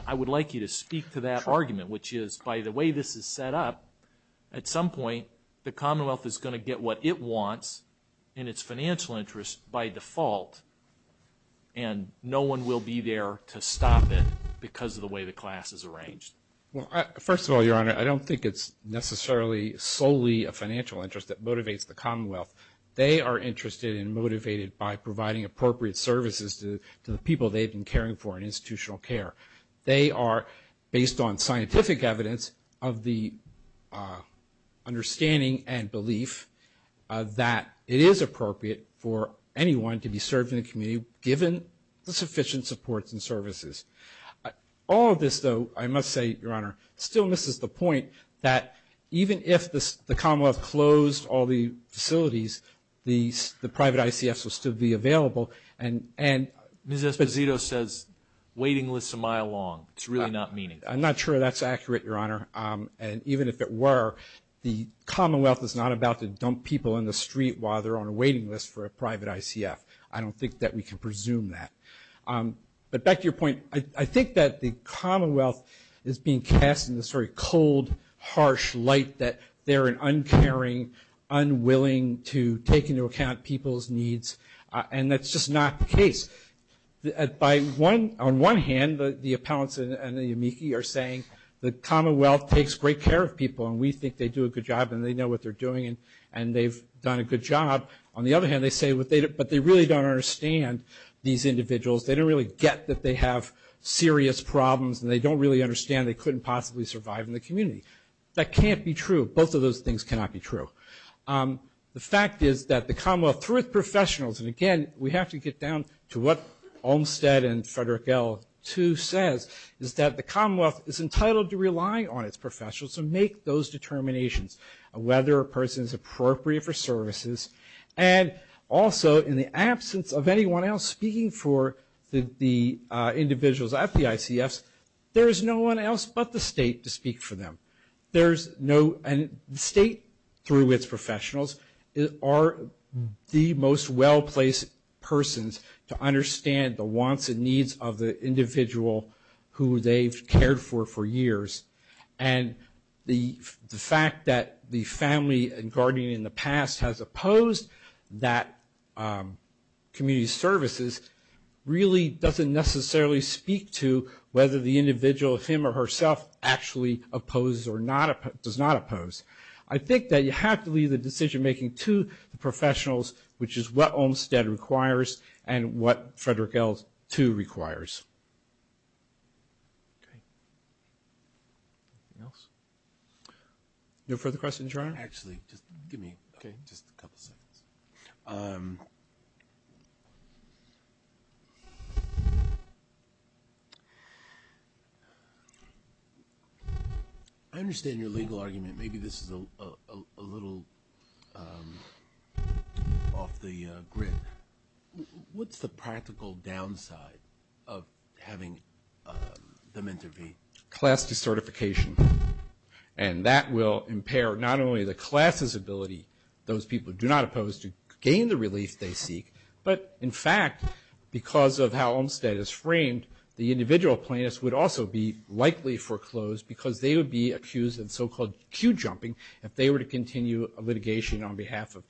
I would like you to speak to that argument which is by the way this is set up, at some point the Commonwealth is going to get what it wants in its financial interest by default and no one will be there to stop it because of the way the class is arranged. First of all, Your Honor, I don't think it's necessarily solely a financial interest that motivates the Commonwealth. They are interested and motivated by providing appropriate services to the people they've been caring for in institutional care. They are based on scientific evidence of the understanding and belief that it is appropriate for anyone to be served in the community given the sufficient supports and services. All of this, though, I must say, Your Honor, still misses the point that even if the Commonwealth closed all the facilities, the private ICFs would still be available and... Mr. Esposito says waiting lists a mile long. It's really not meaningful. I'm not sure that's accurate, Your Honor, and even if it were, the Commonwealth is not about to dump people in the street while they're on a waiting list for a private ICF. I don't think that we can presume that. But back to your point, I think that the Commonwealth is being cast in this very cold, harsh light that they're an uncaring, unwilling to take into account people's needs and that's just not the case. On one hand, the appellants and the amici are saying the Commonwealth takes great care of people and we think they do a good job and they know what they're doing and they've done a good job. On the other hand, they say, but they really don't understand these individuals. They don't really get that they have serious problems and they don't really understand they couldn't possibly survive in the community. That can't be true. Both of those things cannot be true. The fact is that the Commonwealth, through its professionals, and again, we have to get down to what Olmstead and Frederick L, too, says, is that the Commonwealth is entitled to rely on its professionals to make those determinations of whether a person is appropriate for services and also in the absence of anyone else speaking for the individuals at the ICFs, there is no one else but the state to speak for them. The state, through its professionals, are the most well-placed persons to understand the wants and needs of the individual who they've cared for for years. And the fact that the family and guardian in the past has opposed that community services really doesn't necessarily speak to whether the individual, him or herself, actually opposes or does not oppose. I think that you have to leave the decision-making to the professionals, which is what Olmstead requires and what Frederick L, too, requires. No further questions, Your Honor? Actually, just give me just a couple seconds. I understand your legal argument. Maybe this is a little off the grid. What's the practical downside of having them intervene? Class decertification. And that will impair not only the class's ability, those people do not oppose to gain the relief they seek, but in fact because of how Olmstead is framed, the individual plaintiffs would also be likely foreclosed because they would be accused of so-called queue jumping if they were to continue a litigation on behalf of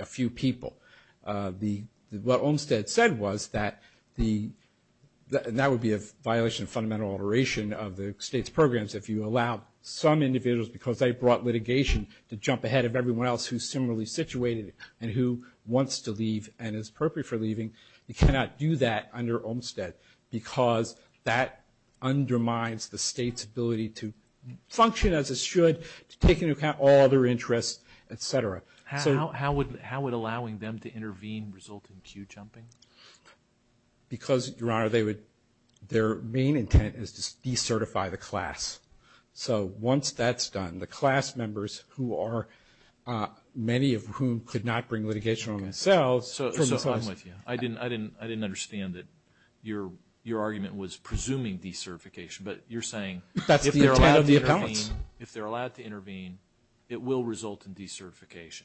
a few people. What Olmstead said was that that would be a violation of fundamental alteration of the state's programs if you allow some individuals, because they brought litigation, to jump ahead of everyone else who's similarly situated and who wants to leave and is appropriate for leaving. You cannot do that under Olmstead, because that undermines the state's ability to function as it should, to take into account all other interests, et cetera. How would allowing them to intervene result in queue jumping? Because, Your Honor, their main intent is to decertify the class. So once that's done, the class members, many of whom could not bring litigation on themselves, I didn't understand that your argument was presuming decertification, but you're saying if they're allowed to intervene, it will result in decertification.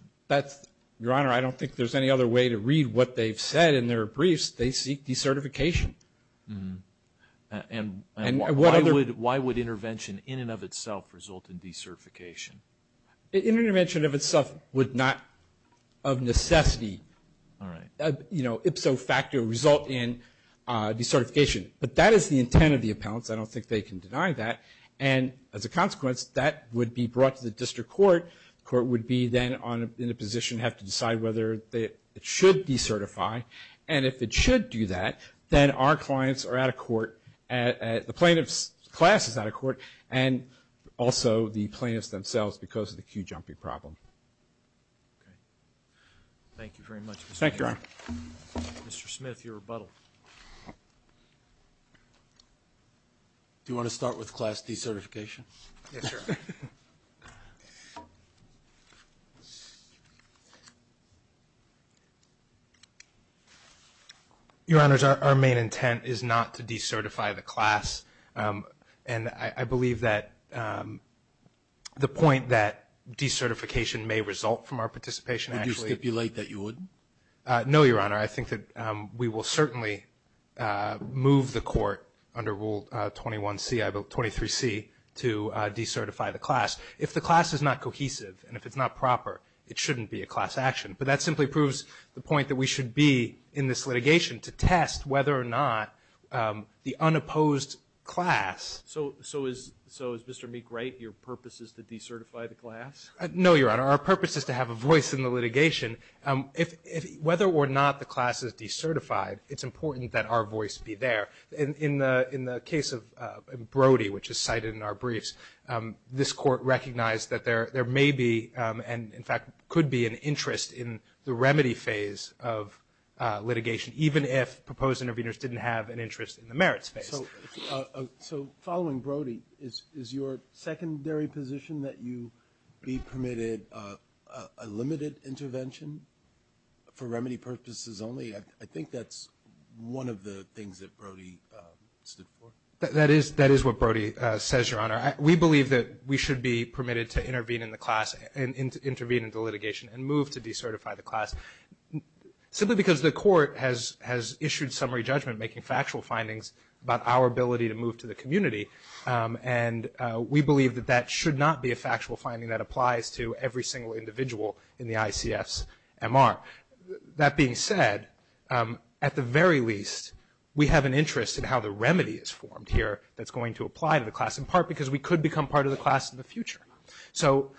Your Honor, I don't think there's any other way to read what they've said in their briefs. They seek decertification. And why would intervention in and of itself result in decertification? Intervention in and of itself would not, of necessity, ipso facto result in decertification. But that is the intent of the appellants. I don't think they can deny that. And as a consequence, that would be brought to the district court. The court would be then in a position to have to decide whether it should decertify. And if it should do that, then our clients are out of court, the plaintiff's class is out of court, and also the plaintiffs themselves because of the queue jumping problem. Okay. Thank you very much, Mr. Mayor. Thank you, Your Honor. Mr. Smith, your rebuttal. Do you want to start with class decertification? Yes, Your Honor. Okay. Your Honors, our main intent is not to decertify the class. And I believe that the point that decertification may result from our participation actually Would you stipulate that you would? No, Your Honor. I think that we will certainly move the court under Rule 21C, 23C, to decertify the class. If the class is not cohesive and if it's not proper, it shouldn't be a class action. But that simply proves the point that we should be in this litigation to test whether or not the unopposed class. So is Mr. Meek-Wright, your purpose is to decertify the class? No, Your Honor. Our purpose is to have a voice in the litigation. Whether or not the class is decertified, it's important that our voice be there. In the case of Brody, which is cited in our briefs, this court recognized that there may be and, in fact, could be an interest in the remedy phase of litigation, even if proposed interveners didn't have an interest in the merits phase. So following Brody, is your secondary position that you be permitted a limited intervention for remedy purposes only? I think that's one of the things that Brody stood for. That is what Brody says, Your Honor. We believe that we should be permitted to intervene in the class and intervene in the litigation and move to decertify the class simply because the court has issued summary judgment, making factual findings about our ability to move to the community. And we believe that that should not be a factual finding that applies to every single individual in the ICF's MR. That being said, at the very least, we have an interest in how the remedy is formed here that's going to apply to the class, in part because we could become part of the class in the future. So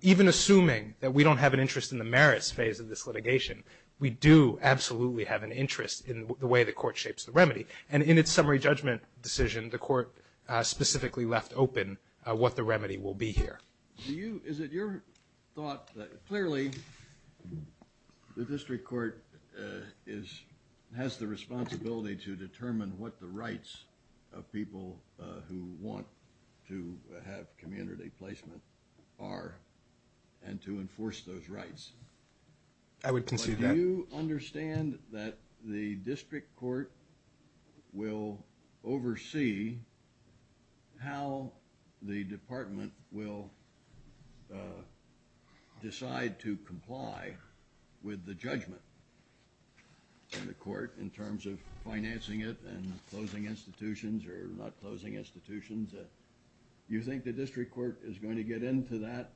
even assuming that we don't have an interest in the merits phase of this litigation, we do absolutely have an interest in the way the court shapes the remedy. And in its summary judgment decision, the court specifically left open what the remedy will be here. Is it your thought that clearly the district court has the responsibility to determine what the rights of people who want to have community placement are and to enforce those rights? I would concede that. Do you understand that the district court will oversee how the department will decide to comply with the judgment in the court in terms of financing it and closing institutions or not closing institutions? Do you think the district court is going to get into that?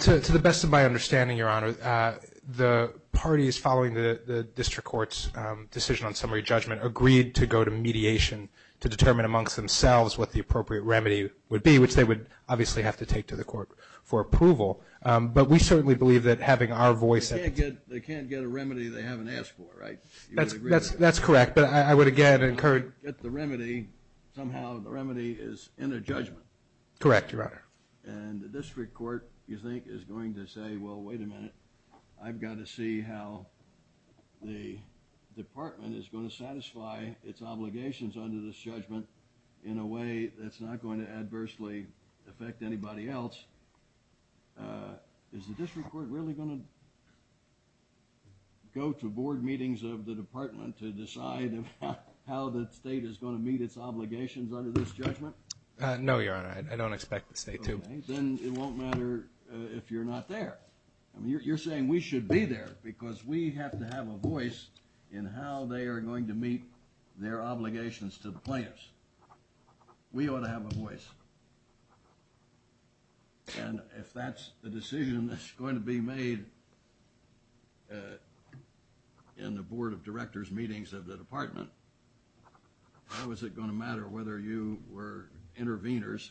To the best of my understanding, Your Honor, the parties following the district court's decision on summary judgment agreed to go to mediation to determine amongst themselves what the appropriate remedy would be, which they would obviously have to take to the court for approval. But we certainly believe that having our voice at the table... They can't get a remedy they haven't asked for, right? That's correct. But I would again encourage... If they can't get the remedy, somehow the remedy is in their judgment. Correct, Your Honor. And the district court, you think, is going to say, Well, wait a minute. I've got to see how the department is going to satisfy its obligations under this judgment in a way that's not going to adversely affect anybody else. Is the district court really going to go to board meetings of the department to decide how the state is going to meet its obligations under this judgment? No, Your Honor. I don't expect the state to. Then it won't matter if you're not there. You're saying we should be there because we have to have a voice in how they are going to meet their obligations to the plaintiffs. We ought to have a voice. And if that's the decision that's going to be made in the board of directors' meetings of the department, how is it going to matter whether you were interveners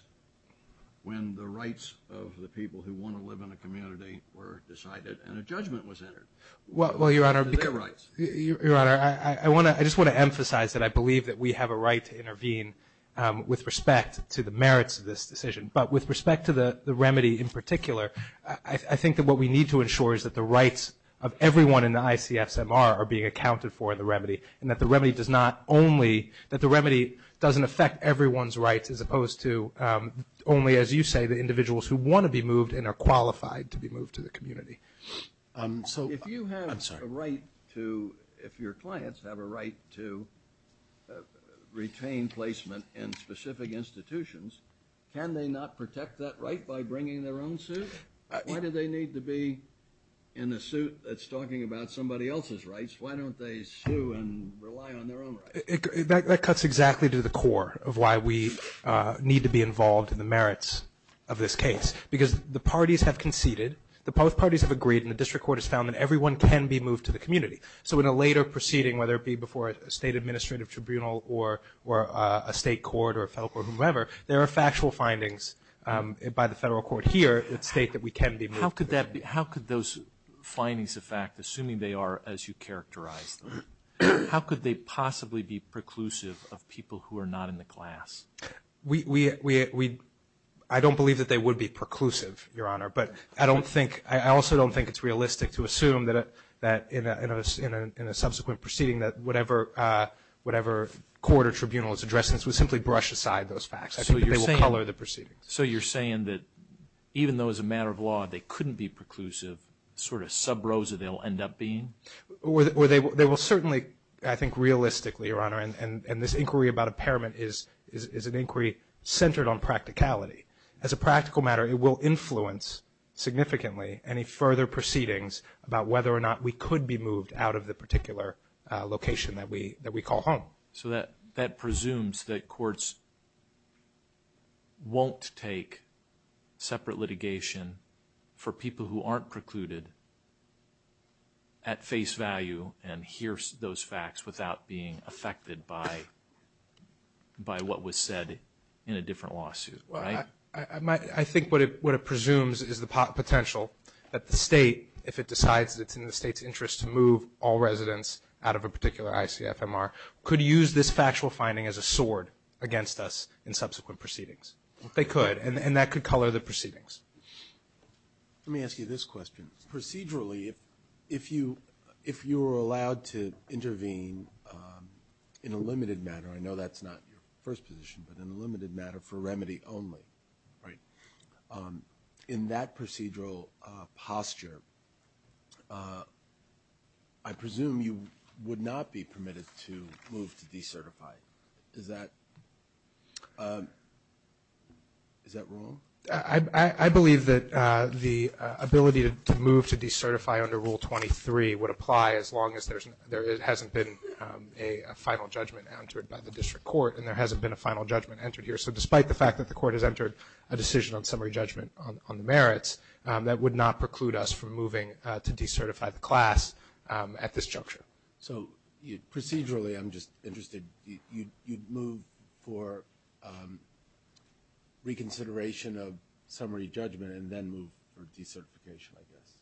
when the rights of the people who want to live in a community were decided and a judgment was entered? Well, Your Honor, I just want to emphasize that I believe that we have a right to intervene with respect to the merits of this decision. But with respect to the remedy in particular, I think that what we need to ensure is that the rights of everyone in the ICF-SMR are being accounted for in the remedy and that the remedy doesn't affect everyone's rights as opposed to only, as you say, the individuals who want to be moved and are qualified to be moved to the community. If your clients have a right to retain placement in specific institutions, can they not protect that right by bringing their own suit? Why do they need to be in a suit that's talking about somebody else's rights? Why don't they sue and rely on their own rights? That cuts exactly to the core of why we need to be involved in the merits of this case because the parties have conceded, both parties have agreed, and the district court has found that everyone can be moved to the community. So in a later proceeding, whether it be before a state administrative tribunal or a state court or a federal court or whomever, there are factual findings by the federal court here that state that we can be moved. How could those findings affect, assuming they are as you characterized them, how could they possibly be preclusive of people who are not in the class? I don't believe that they would be preclusive, Your Honor, but I also don't think it's realistic to assume that in a subsequent proceeding that whatever court or tribunal is addressing this would simply brush aside those facts. I think that they will color the proceedings. So you're saying that even though as a matter of law they couldn't be preclusive, sort of sub rosa they'll end up being? They will certainly, I think, realistically, Your Honor, and this inquiry about impairment is an inquiry centered on practicality. As a practical matter, it will influence significantly any further proceedings about whether or not we could be moved out of the particular location that we call home. So that presumes that courts won't take separate litigation for people who aren't precluded at face value and hear those facts without being affected by what was said in a different lawsuit, right? I think what it presumes is the potential that the state, if it decides it's in the state's interest to move all residents out of a particular ICFMR, could use this factual finding as a sword against us in subsequent proceedings. They could, and that could color the proceedings. Let me ask you this question. Procedurally, if you were allowed to intervene in a limited matter, I know that's not your first position, but in a limited matter for remedy only, right, in that procedural posture, I presume you would not be permitted to move to decertify. Is that wrong? I believe that the ability to move to decertify under Rule 23 would apply as long as there hasn't been a final judgment entered by the district court and there hasn't been a final judgment entered here. So despite the fact that the court has entered a decision on summary judgment on the merits, that would not preclude us from moving to decertify the class at this juncture. So procedurally, I'm just interested, you'd move for reconsideration of summary judgment and then move for decertification, I guess?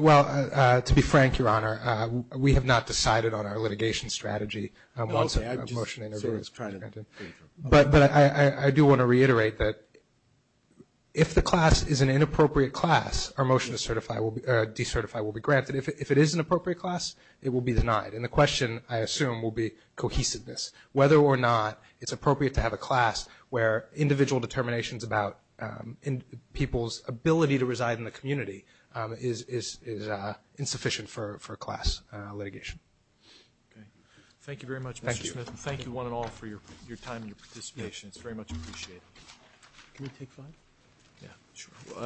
Well, to be frank, Your Honor, we have not decided on our litigation strategy. But I do want to reiterate that if the class is an inappropriate class, our motion to decertify will be granted. If it is an appropriate class, it will be denied. And the question, I assume, will be cohesiveness, whether or not it's appropriate to have a class where individual determinations about people's ability to reside in the community is insufficient for class litigation. Okay. Thank you very much, Mr. Smith. Thank you. And thank you, one and all, for your time and your participation. It's very much appreciated. Can we take five? Yeah, sure.